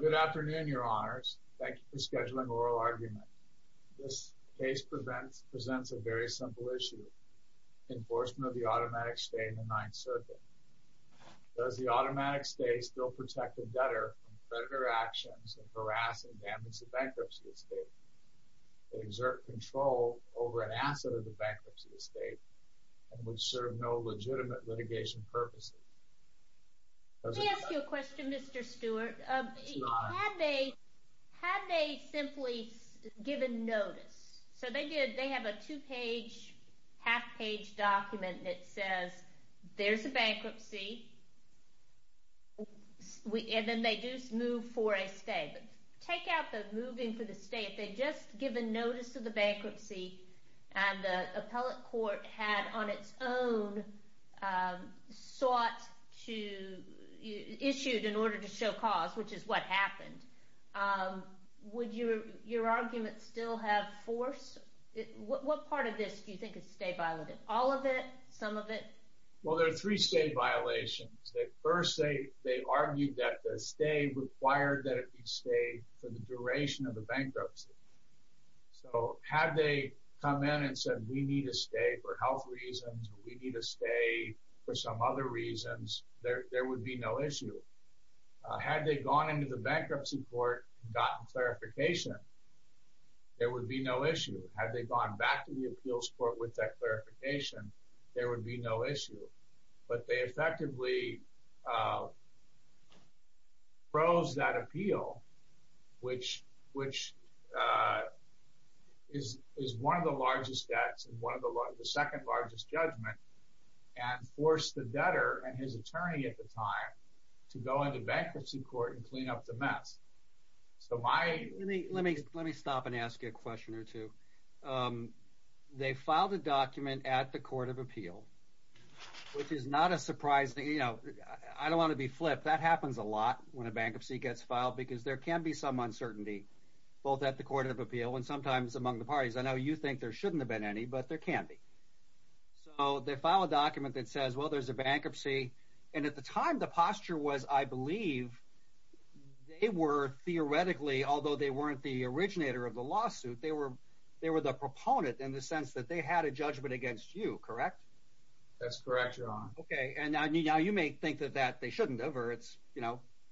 Good afternoon, your honors. Thank you for scheduling oral argument. This case presents a very simple issue. Enforcement of the automatic stay in the Ninth Circuit. Does the automatic stay still protect the debtor from predator actions and harass and damage the bankruptcy estate, exert control over an asset of the bankruptcy estate, and would serve no legitimate litigation purposes? Let me ask you a question, Mr. Stuart. Had they simply given notice? So they have a two-page, half-page document that says, there's a bankruptcy, and then they do move for a stay. But take out the moving for the stay. If they'd just given notice of the bankruptcy, and the appellate court had, on its own, sought to, issued in order to show cause, which is what happened, would your argument still have force? What part of this do you think is stay violated? All of it? Some of it? Well, there are three stay violations. First, they argued that the stay required that it be stayed for the duration of the bankruptcy. So had they come in and said, we need a stay for health reasons, or we need a stay for some other reasons, there would be no issue. Had they gone into the bankruptcy court and gotten clarification, there would be no issue. Had they gone back to the appeals court with that clarification, there would be no issue. But they effectively froze that appeal, which is one of the largest debts and the second largest judgment, and forced the debtor and his attorney at the time to go into bankruptcy court and clean up the mess. Let me stop and ask you a question or two. They filed a document at the court of appeal, which is not a surprise. I don't want to be flipped. That happens a lot when a bankruptcy gets filed, because there can be some uncertainty, both at the court of appeal and sometimes among the parties. I know you think there shouldn't have been any, but there can be. So they filed a document that says, well, there's a bankruptcy, and at the time the posture was, I believe, they were theoretically, although they weren't the originator of the lawsuit, they were the proponent in the sense that they had a judgment against you, correct? That's correct, Your Honor. Okay. And now you may think that they shouldn't have, or it's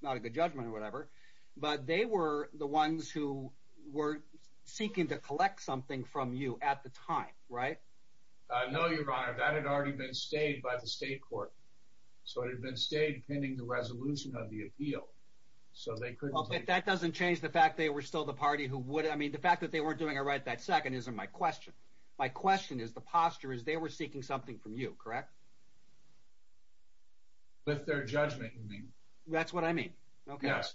not a good judgment or whatever, but they were the ones who were seeking to collect something from you at the time, right? No, Your Honor. That had already been stayed by the state court. So it had been stayed pending the resolution of the appeal. That doesn't change the fact they were still the party who would. I mean, the fact that they weren't doing it right that second isn't my question. My question is the posture is they were seeking something from you, correct? With their judgment, you mean. That's what I mean. Okay. Yes.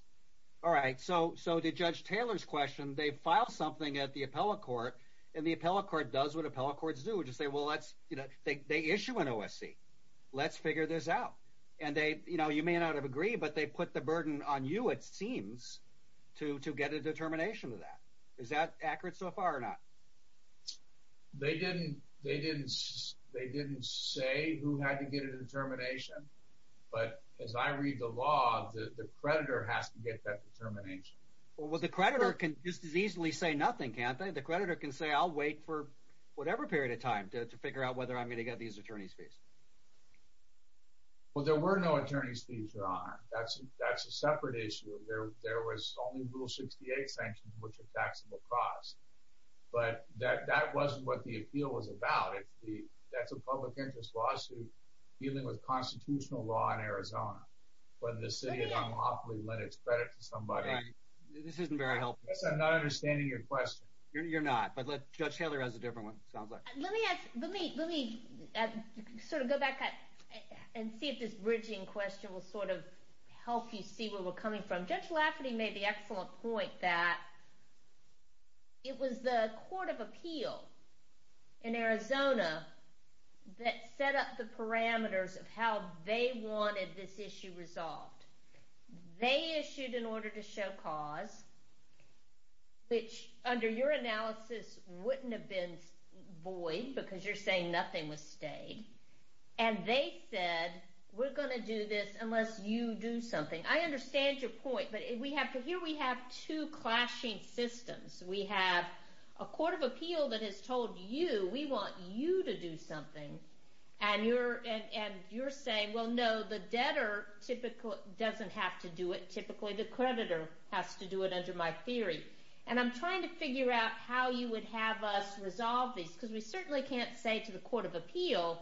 All right. So to Judge Taylor's question, they filed something at the appellate court, and the appellate court does what appellate courts do, which is they issue an OSC. Let's figure this out. And you may not have agreed, but they put the burden on you, it seems, to get a determination of that. Is that accurate so far or not? They didn't say who had to get a determination, but as I read the law, the creditor has to get that determination. Well, the creditor can just as easily say nothing, can't they? The creditor can say I'll wait for whatever period of time to figure out whether I'm going to get these attorney's fees. Well, there were no attorney's fees, Your Honor. That's a separate issue. There was only Rule 68 sanctions, which are taxable costs. But that wasn't what the appeal was about. That's a public interest lawsuit dealing with constitutional law in Arizona, whether the city of Monopoly lent its credit to somebody. This isn't very helpful. I'm not understanding your question. You're not. But Judge Taylor has a different one, it sounds like. Let me sort of go back and see if this bridging question will sort of help you see where we're coming from. Judge Lafferty made the excellent point that it was the Court of Appeal in Arizona that set up the parameters of how they wanted this issue resolved. They issued an order to show cause, which under your analysis wouldn't have been void because you're saying nothing was stayed, and they said we're going to do this unless you do something. I understand your point, but here we have two clashing systems. We have a Court of Appeal that has told you we want you to do something, and you're saying, well, no, the debtor doesn't have to do it. Typically, the creditor has to do it under my theory. And I'm trying to figure out how you would have us resolve this because we certainly can't say to the Court of Appeal,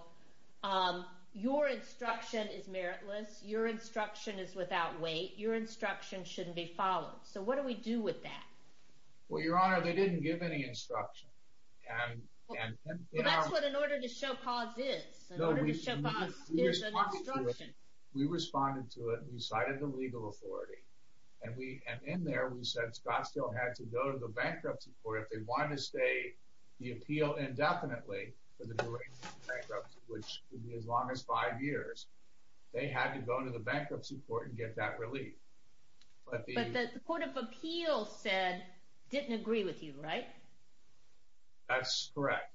your instruction is meritless, your instruction is without weight, your instruction shouldn't be followed. So what do we do with that? Well, Your Honor, they didn't give any instruction. Well, that's what an order to show cause is. An order to show cause is an instruction. We responded to it, we cited the legal authority, and in there we said Scottsdale had to go to the bankruptcy court if they wanted to stay the appeal indefinitely for the duration of the bankruptcy, which would be as long as five years. They had to go to the bankruptcy court and get that relief. But the Court of Appeal said, didn't agree with you, right? That's correct.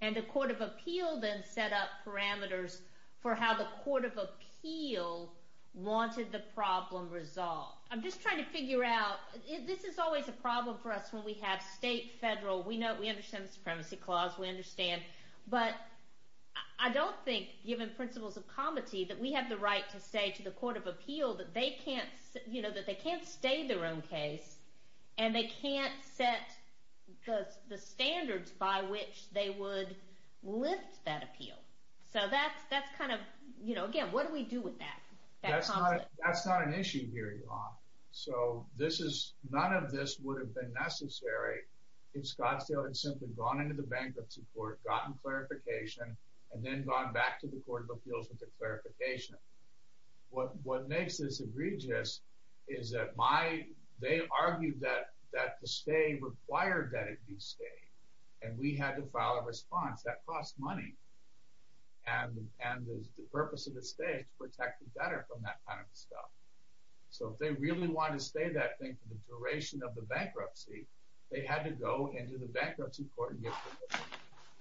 And the Court of Appeal then set up parameters for how the Court of Appeal wanted the problem resolved. I'm just trying to figure out, this is always a problem for us when we have state, federal, we understand the Supremacy Clause, we understand, but I don't think, given principles of comity, that we have the right to say to the Court of Appeal that they can't stay their own case, and they can't set the standards by which they would lift that appeal. So that's kind of, again, what do we do with that? That's not an issue here, Your Honor. So this is, none of this would have been necessary if Scottsdale had simply gone into the bankruptcy court, gotten clarification, and then gone back to the Court of Appeals with the clarification. What makes this egregious is that my, they argued that the stay required that it be stayed, and we had to file a response. That cost money. And the purpose of the stay is to protect the debtor from that kind of stuff. So if they really wanted to stay that thing for the duration of the bankruptcy, they had to go into the bankruptcy court and get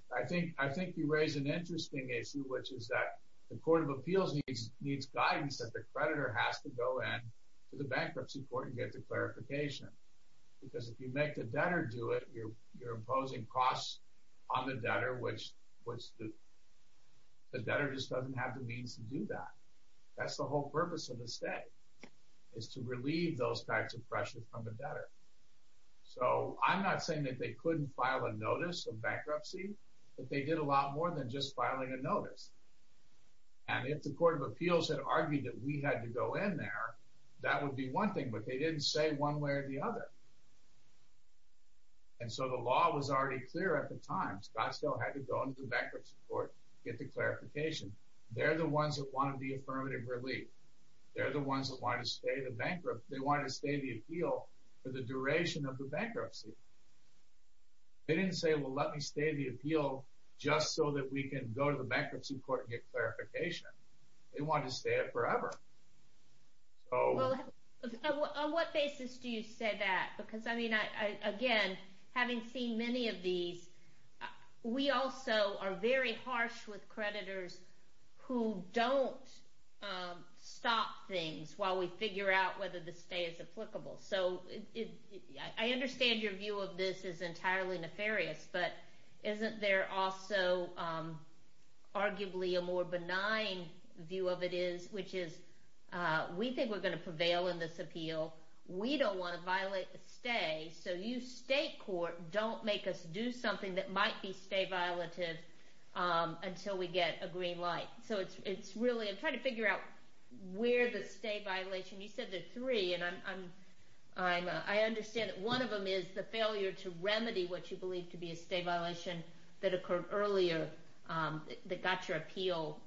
clarification. I think you raise an interesting issue, which is that the Court of Appeals needs guidance that the creditor has to go in to the bankruptcy court and get the clarification. Because if you make the debtor do it, you're imposing costs on the debtor, which the debtor just doesn't have the means to do that. That's the whole purpose of the stay, is to relieve those types of pressures from the debtor. So I'm not saying that they couldn't file a notice of bankruptcy, but they did a lot more than just filing a notice. And if the Court of Appeals had argued that we had to go in there, that would be one thing, but they didn't say one way or the other. And so the law was already clear at the time. Scottsdale had to go into the bankruptcy court, get the clarification. They're the ones that wanted the affirmative relief. They're the ones that wanted to stay the appeal for the duration of the bankruptcy. They didn't say, well, let me stay the appeal just so that we can go to the bankruptcy court and get clarification. They wanted to stay it forever. Well, on what basis do you say that? Because, I mean, again, having seen many of these, we also are very harsh with creditors who don't stop things while we figure out whether the stay is applicable. So I understand your view of this is entirely nefarious, but isn't there also arguably a more benign view of it is, which is we think we're going to prevail in this appeal. We don't want to violate the stay, so you state court don't make us do something that might be stay violative until we get a green light. So it's really, I'm trying to figure out where the stay violation, you said there are three, and I understand that one of them is the failure to remedy what you believe to be a stay violation that occurred earlier that got your appeal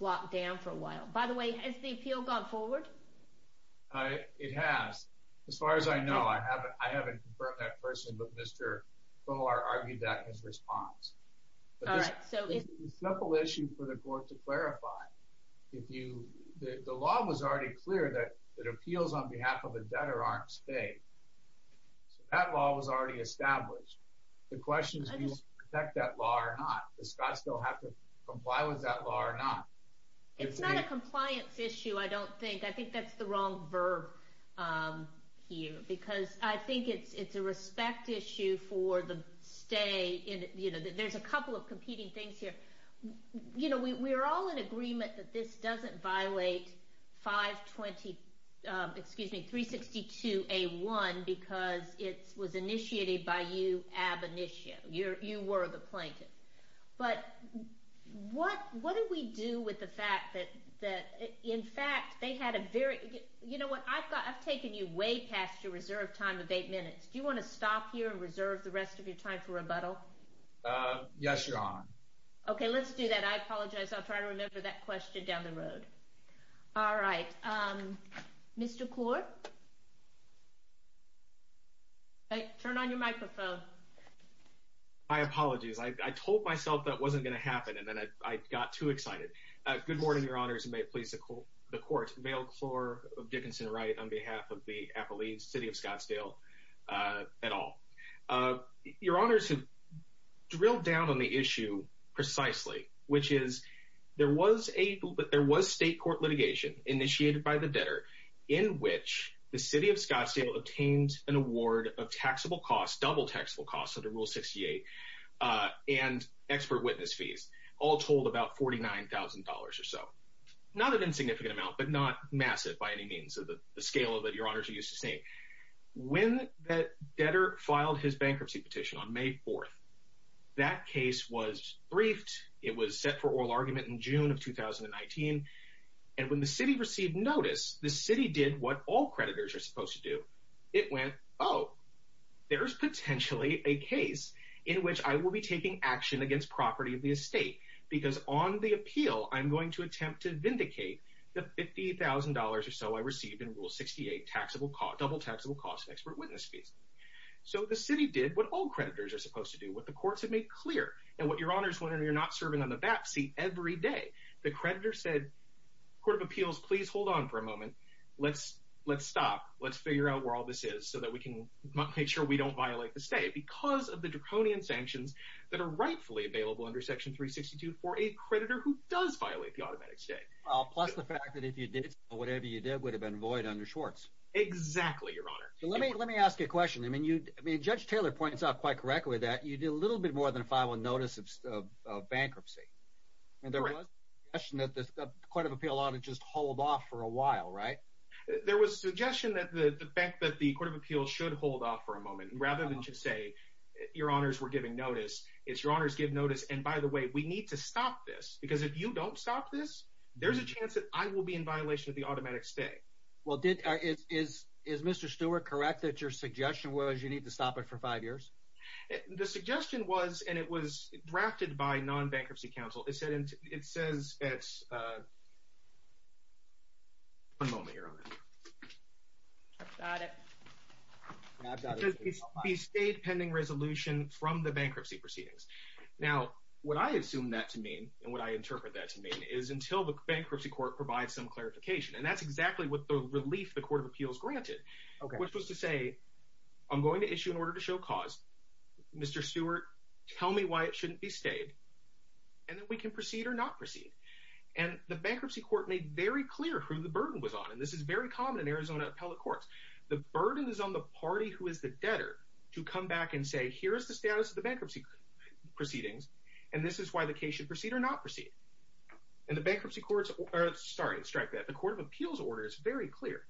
locked down for a while. By the way, has the appeal gone forward? It has. As far as I know, I haven't confirmed that personally, but Mr. Fowler argued that in his response. All right. It's a simple issue for the court to clarify. The law was already clear that appeals on behalf of a debtor aren't stay. So that law was already established. The question is do you protect that law or not? Does Scott still have to comply with that law or not? It's not a compliance issue, I don't think. I think that's the wrong verb here, because I think it's a respect issue for the stay. There's a couple of competing things here. We're all in agreement that this doesn't violate 362A1 because it was initiated by you ab initio. You were the plaintiff. But what do we do with the fact that, in fact, they had a very – you know what, I've taken you way past your reserved time of eight minutes. Do you want to stop here and reserve the rest of your time for rebuttal? Yes, Your Honor. Okay, let's do that. I apologize. I'll try to remember that question down the road. All right. Mr. Kaur? Turn on your microphone. My apologies. I told myself that wasn't going to happen, and then I got too excited. Good morning, Your Honors, and may it please the Court. Vale Klor of Dickinson-Wright on behalf of the Appalachian City of Scottsdale et al. Your Honors have drilled down on the issue precisely, which is there was state court litigation initiated by the debtor in which the City of Scottsdale obtained an award of taxable costs, double taxable costs under Rule 68, and expert witness fees, all told about $49,000 or so. Not an insignificant amount, but not massive by any means of the scale of it, Your Honors are used to seeing. When that debtor filed his bankruptcy petition on May 4th, that case was briefed. It was set for oral argument in June of 2019. And when the city received notice, the city did what all creditors are supposed to do. It went, oh, there's potentially a case in which I will be taking action against property of the estate because on the appeal, I'm going to attempt to vindicate the $50,000 or so I received in Rule 68, double taxable costs and expert witness fees. So the city did what all creditors are supposed to do, what the courts have made clear, and what Your Honors, when you're not serving on the BAPC, every day. The creditor said, Court of Appeals, please hold on for a moment. Let's stop. Let's figure out where all this is so that we can make sure we don't violate the estate because of the draconian sanctions that are rightfully available under Section 362 for a creditor who does violate the automatic estate. Well, plus the fact that if you did, whatever you did would have been void under Schwartz. Exactly, Your Honor. Let me ask you a question. I mean, Judge Taylor points out quite correctly that you did a little bit more than a five-month notice of bankruptcy. And there was a suggestion that the Court of Appeals ought to just hold off for a while, right? There was a suggestion that the fact that the Court of Appeals should hold off for a moment rather than just say, Your Honors, we're giving notice. It's, Your Honors, give notice, and by the way, we need to stop this because if you don't stop this, there's a chance that I will be in violation of the automatic estate. Well, is Mr. Stewart correct that your suggestion was you need to stop it for five years? The suggestion was, and it was drafted by non-bankruptcy counsel. It says it's, one moment, Your Honor. I've got it. It says be stayed pending resolution from the bankruptcy proceedings. Now, what I assume that to mean and what I interpret that to mean is until the bankruptcy court provides some clarification, and that's exactly what the relief the Court of Appeals granted, which was to say, I'm going to issue an order to show cause. Mr. Stewart, tell me why it shouldn't be stayed, and then we can proceed or not proceed. And the bankruptcy court made very clear who the burden was on, and this is very common in Arizona appellate courts. The burden is on the party who is the debtor to come back and say, here is the status of the bankruptcy proceedings, and this is why the case should proceed or not proceed. And the bankruptcy courts, sorry to strike that, the Court of Appeals order is very clear.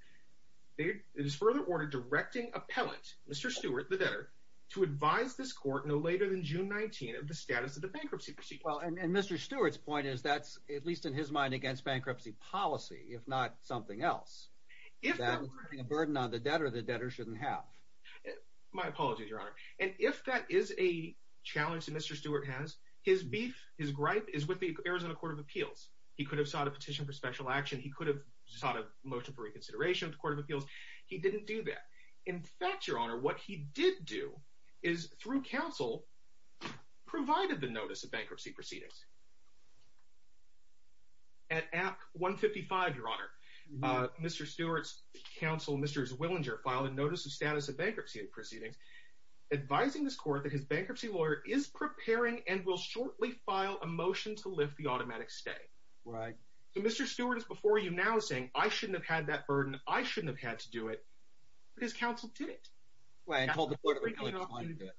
It is further order directing appellate, Mr. Stewart, the debtor, to advise this court no later than June 19 of the status of the bankruptcy proceedings. Well, and Mr. Stewart's point is that's, at least in his mind, against bankruptcy policy, if not something else. If that was putting a burden on the debtor, the debtor shouldn't have. My apologies, Your Honor. And if that is a challenge that Mr. Stewart has, his beef, his gripe, is with the Arizona Court of Appeals. He could have sought a petition for special action. He could have sought a motion for reconsideration of the Court of Appeals. He didn't do that. In fact, Your Honor, what he did do is, through counsel, provided the notice of bankruptcy proceedings. At Act 155, Your Honor, Mr. Stewart's counsel, Mr. Zwillinger, filed a notice of status of bankruptcy proceedings advising this court that his bankruptcy lawyer is preparing and will shortly file a motion to lift the automatic stay. Right. So Mr. Stewart is before you now saying, I shouldn't have had that burden, I shouldn't have had to do it, but his counsel did it. Well, and told the Court of Appeals he wasn't going to do it.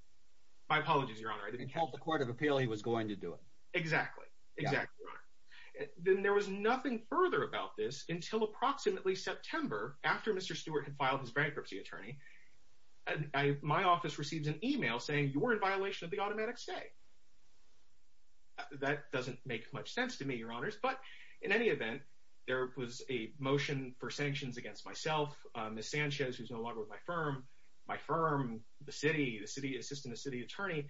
My apologies, Your Honor. And told the Court of Appeals he was going to do it. Exactly. Exactly, Your Honor. Then there was nothing further about this until approximately September, after Mr. Stewart had filed his bankruptcy attorney, my office received an email saying, you're in violation of the automatic stay. That doesn't make much sense to me, Your Honors, but in any event, there was a motion for sanctions against myself, Ms. Sanchez, who's no longer with my firm, my firm, the city, the city assistant, the city attorney,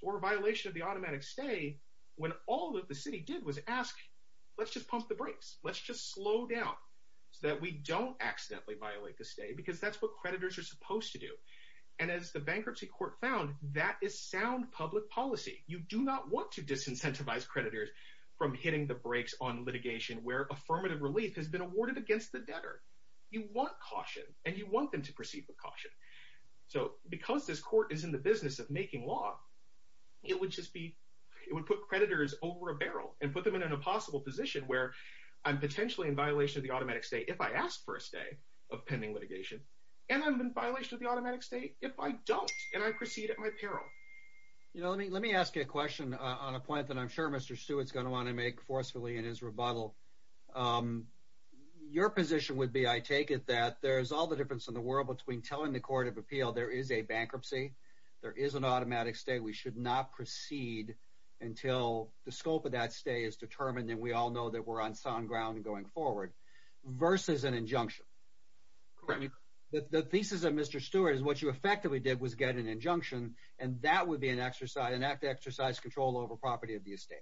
for violation of the automatic stay, when all that the city did was ask, let's just pump the brakes, let's just slow down so that we don't accidentally violate the stay, because that's what creditors are supposed to do. And as the bankruptcy court found, that is sound public policy. You do not want to disincentivize creditors from hitting the brakes on litigation where affirmative relief has been awarded against the debtor. You want caution, and you want them to proceed with caution. So because this court is in the business of making law, it would just be, it would put creditors over a barrel and put them in an impossible position where I'm potentially in violation of the automatic stay if I ask for a stay of pending litigation, and I'm in violation of the automatic stay if I don't, and I proceed at my peril. Let me ask you a question on a point that I'm sure Mr. Stewart is going to want to make forcefully in his rebuttal. Your position would be, I take it, that there's all the difference in the world between telling the court of appeal there is a bankruptcy, there is an automatic stay, we should not proceed until the scope of that stay is determined, and we all know that we're on sound ground going forward, versus an injunction. The thesis of Mr. Stewart is what you effectively did was get an injunction, and that would be an exercise, an act to exercise control over property of the estate.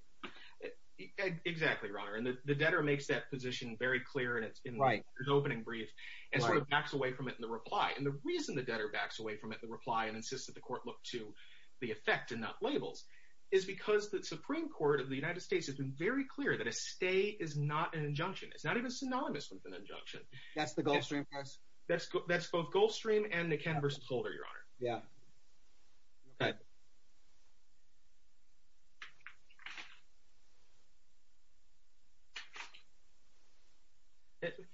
Exactly, Your Honor, and the debtor makes that position very clear, and it's in his opening brief, and sort of backs away from it in the reply. And the reason the debtor backs away from it in the reply and insists that the court look to the effect and not labels is because the Supreme Court of the United States has been very clear that a stay is not an injunction. It's not even synonymous with an injunction. That's the Gulf Stream case? That's both Gulf Stream and McKenna v. Holder, Your Honor.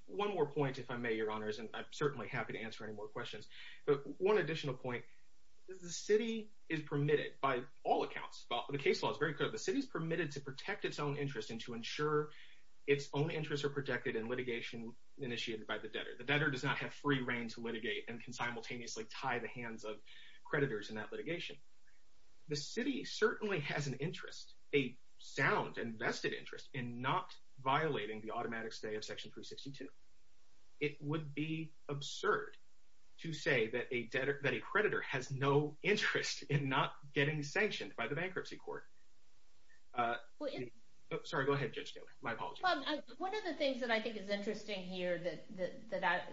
One more point, if I may, Your Honors, and I'm certainly happy to answer any more questions, but one additional point. The city is permitted, by all accounts, the case law is very clear, the city is permitted to protect its own interest and to ensure its own interests are protected in litigation initiated by the debtor. The debtor does not have free reign to litigate and can simultaneously tie the hands of creditors in that litigation. The city certainly has an interest, a sound and vested interest, in not violating the automatic stay of Section 362. It would be absurd to say that a creditor has no interest in not getting sanctioned by the bankruptcy court. Sorry, go ahead, Judge Taylor. My apologies. One of the things that I think is interesting here that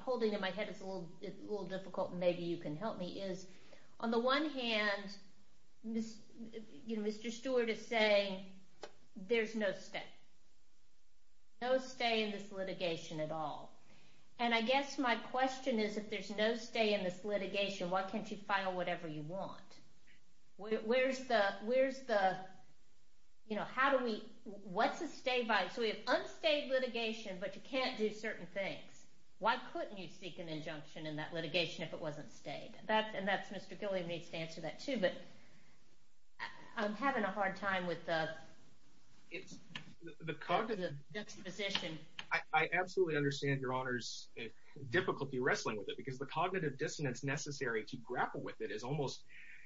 holding in my head is a little difficult and maybe you can help me is, on the one hand, Mr. Stewart is saying there's no stay. No stay in this litigation at all. And I guess my question is, if there's no stay in this litigation, why can't you file whatever you want? Where's the, you know, how do we, what's a stay by? So we have unstayed litigation, but you can't do certain things. Why couldn't you seek an injunction in that litigation if it wasn't stayed? And that's, Mr. Gilliam needs to answer that too, but I'm having a hard time with the exposition. I absolutely understand Your Honors' difficulty wrestling with it because the cognitive dissonance necessary to grapple with it is almost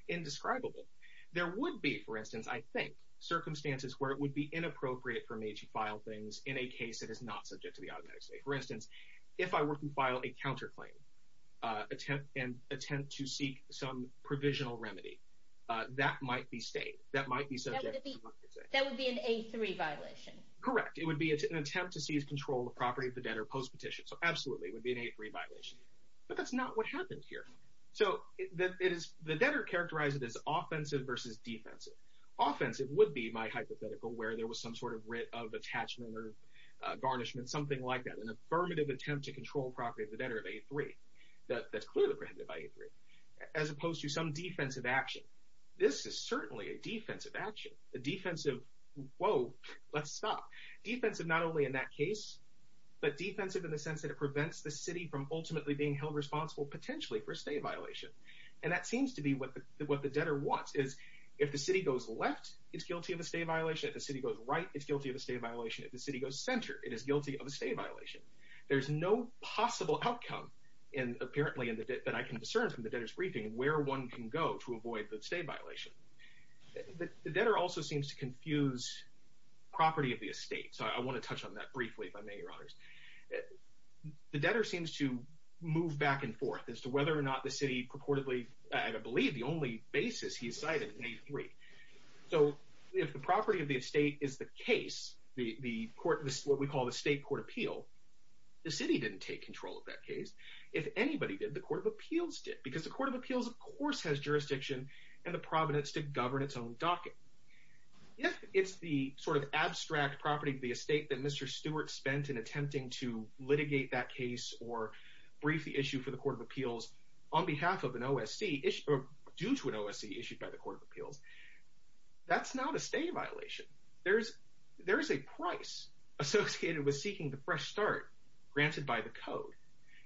indescribable. There would be, for instance, I think, circumstances where it would be inappropriate for me to file things in a case that is not subject to the automatic stay. For instance, if I were to file a counterclaim and attempt to seek some provisional remedy, that might be stayed. That might be subject to the automatic stay. That would be an A3 violation. Correct. It would be an attempt to seize control of the property of the debtor post-petition. So absolutely, it would be an A3 violation. But that's not what happened here. So the debtor characterized it as offensive versus defensive. Offensive would be my hypothetical where there was some sort of writ of attachment or garnishment, something like that, an affirmative attempt to control property of the debtor of A3 that's clearly preempted by A3, as opposed to some defensive action. This is certainly a defensive action. A defensive, whoa, let's stop. Defensive not only in that case, but defensive in the sense that it prevents the city from ultimately being held responsible, potentially, for a stay violation. And that seems to be what the debtor wants, is if the city goes left, it's guilty of a stay violation. If the city goes right, it's guilty of a stay violation. If the city goes center, it is guilty of a stay violation. There's no possible outcome, apparently, that I can discern from the debtor's briefing where one can go to avoid the stay violation. The debtor also seems to confuse property of the estate. So I want to touch on that briefly, if I may, Your Honors. The debtor seems to move back and forth as to whether or not the city purportedly, I believe the only basis he cited in A3. So if the property of the estate is the case, what we call the state court appeal, the city didn't take control of that case. If anybody did, the court of appeals did, because the court of appeals, of course, has jurisdiction and the providence to govern its own docket. If it's the sort of abstract property of the estate that Mr. Stewart spent in attempting to litigate that case or brief the issue for the court of appeals on behalf of an OSC issued, or due to an OSC issued by the court of appeals, that's not a stay violation. There is a price associated with seeking the fresh start granted by the code.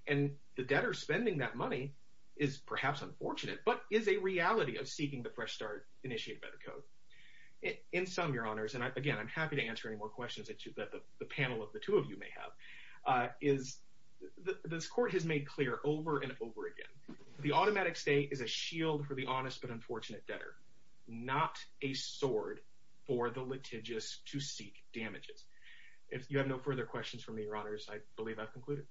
And the debtor spending that money is perhaps unfortunate, but is a reality of seeking the fresh start initiated by the code. In sum, Your Honors, and again, I'm happy to answer any more questions that the panel of the two of you may have, is this court has made clear over and over again, the automatic stay is a shield for the honest but unfortunate debtor, not a sword for the litigious to seek damages. If you have no further questions for me, Your Honors, I believe I've concluded.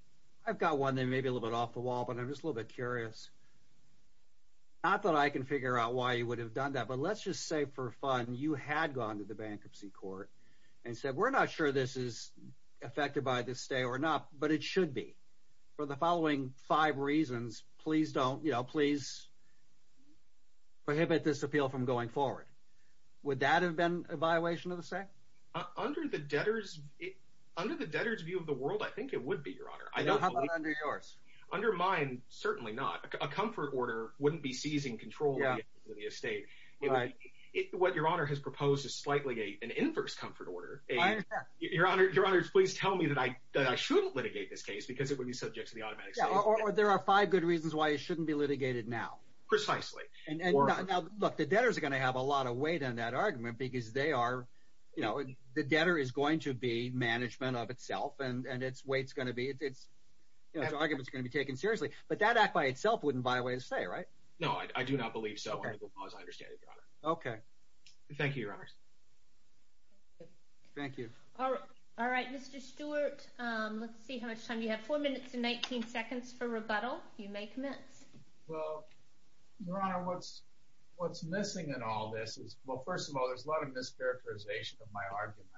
I've got one that may be a little bit off the wall, but I'm just a little bit curious. Not that I can figure out why you would have done that, but let's just say for fun you had gone to the bankruptcy court and said we're not sure this is affected by this stay or not, but it should be. For the following five reasons, please prohibit this appeal from going forward. Would that have been a violation of the stay? Under the debtor's view of the world, I think it would be, Your Honor. How about under yours? Under mine, certainly not. A comfort order wouldn't be seizing control of the estate. What Your Honor has proposed is slightly an inverse comfort order. Your Honors, please tell me that I shouldn't litigate this case because it would be subject to the automatic stay. Or there are five good reasons why it shouldn't be litigated now. Precisely. Look, the debtors are going to have a lot of weight on that argument because they are, you know, the debtor is going to be management of itself and its weight is going to be, its argument is going to be taken seriously. But that act by itself wouldn't violate a stay, right? No, I do not believe so, as far as I understand it, Your Honor. Thank you, Your Honors. Thank you. All right, Mr. Stewart. Let's see how much time you have. Four minutes and 19 seconds for rebuttal. You may commence. Well, Your Honor, what's missing in all this is, well, first of all, there's a lot of mischaracterization of my arguments.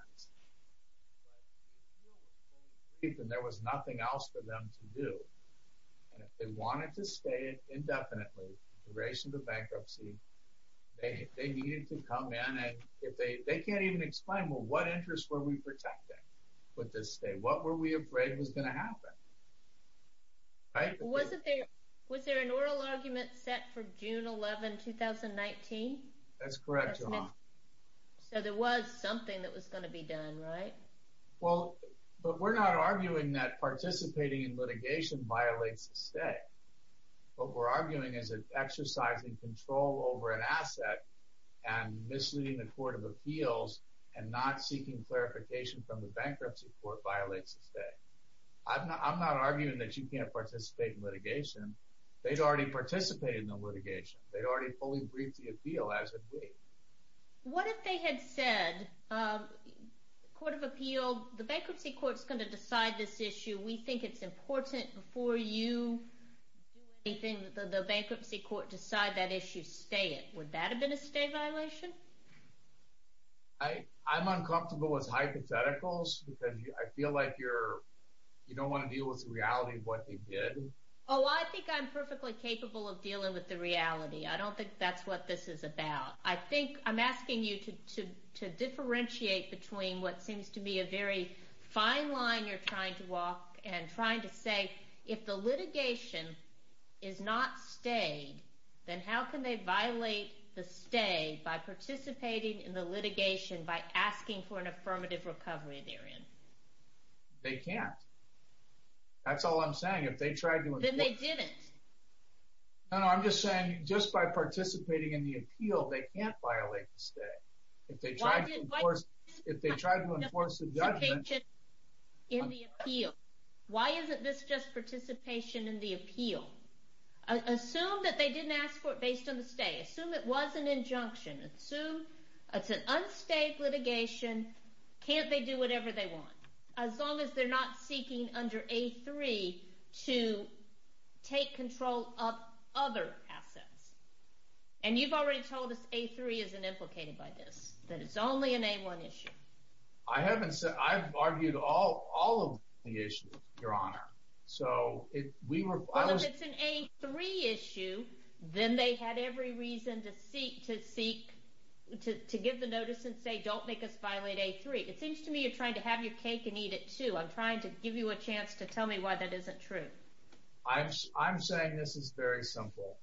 But the appeal was fully briefed and there was nothing else for them to do. And if they wanted to stay indefinitely, duration of the bankruptcy, they needed to come in and, they can't even explain, well, what interest were we protecting with this stay? What were we afraid was going to happen? Right? Was there an oral argument set for June 11, 2019? That's correct, Your Honor. So there was something that was going to be done, right? Well, but we're not arguing that participating in litigation violates a stay. What we're arguing is that exercising control over an asset and misleading the court of appeals and not seeking clarification from the bankruptcy court violates a stay. I'm not arguing that you can't participate in litigation. They'd already participated in the litigation. They'd already fully briefed the appeal, as had we. What if they had said, the bankruptcy court's going to decide this issue. We think it's important before you do anything that the bankruptcy court decide that issue, stay it. Would that have been a stay violation? I'm uncomfortable with hypotheticals because I feel like you don't want to deal with the reality of what they did. Oh, I think I'm perfectly capable of dealing with the reality. I don't think that's what this is about. I think I'm asking you to differentiate between what seems to be a very fine line you're trying to walk and trying to say, if the litigation is not stayed, then how can they violate the stay by participating in the litigation by asking for an affirmative recovery therein? They can't. That's all I'm saying. Then they didn't. No, no, I'm just saying, just by participating in the appeal, they can't violate the stay. If they tried to enforce the judgment. Participation in the appeal. Why isn't this just participation in the appeal? Assume that they didn't ask for it based on the stay. Assume it was an injunction. Assume it's an unstayed litigation. Can't they do whatever they want? As long as they're not seeking under A3 to take control of other assets. And you've already told us A3 isn't implicated by this, that it's only an A1 issue. I haven't said that. I've argued all of the issues, Your Honor. But if it's an A3 issue, then they had every reason to seek, to give the notice and say, don't make us violate A3. Great. It seems to me you're trying to have your cake and eat it, too. I'm trying to give you a chance to tell me why that isn't true. I'm saying this is very simple.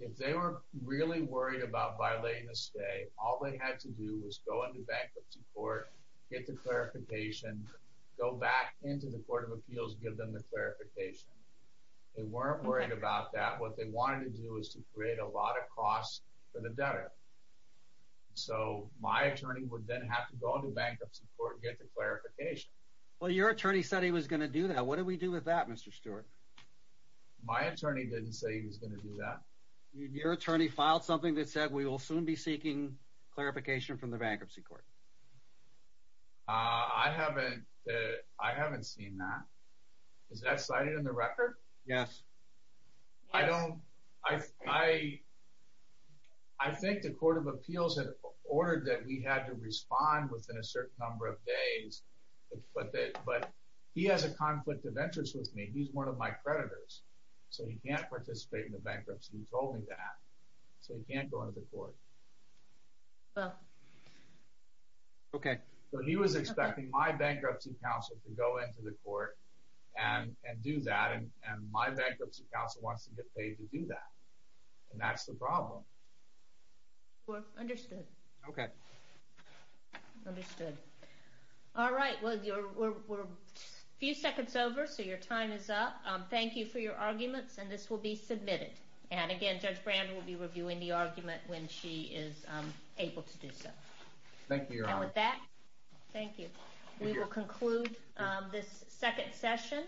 If they were really worried about violating the stay, all they had to do was go into bankruptcy court, get the clarification, go back into the Court of Appeals, give them the clarification. They weren't worried about that. What they wanted to do was to create a lot of costs for the debtor. So my attorney would then have to go into bankruptcy court and get the clarification. Well, your attorney said he was going to do that. What did we do with that, Mr. Stewart? My attorney didn't say he was going to do that. Your attorney filed something that said, we will soon be seeking clarification from the bankruptcy court. I haven't seen that. Is that cited in the record? Yes. I think the Court of Appeals had ordered that we had to respond within a certain number of days. But he has a conflict of interest with me. He's one of my creditors. So he can't participate in the bankruptcy. He told me that. So he can't go into the court. Okay. He was expecting my bankruptcy counsel to go into the court and do that, and my bankruptcy counsel wants to get paid to do that. And that's the problem. Understood. Okay. Understood. All right. We're a few seconds over, so your time is up. Thank you for your arguments, and this will be submitted. And again, Judge Brand will be reviewing the argument when she is able to do so. Thank you, Your Honor. And with that, thank you. We will conclude this second session.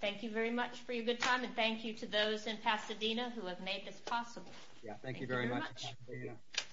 Thank you very much for your good time, and thank you to those in Pasadena who have made this possible. Thank you very much.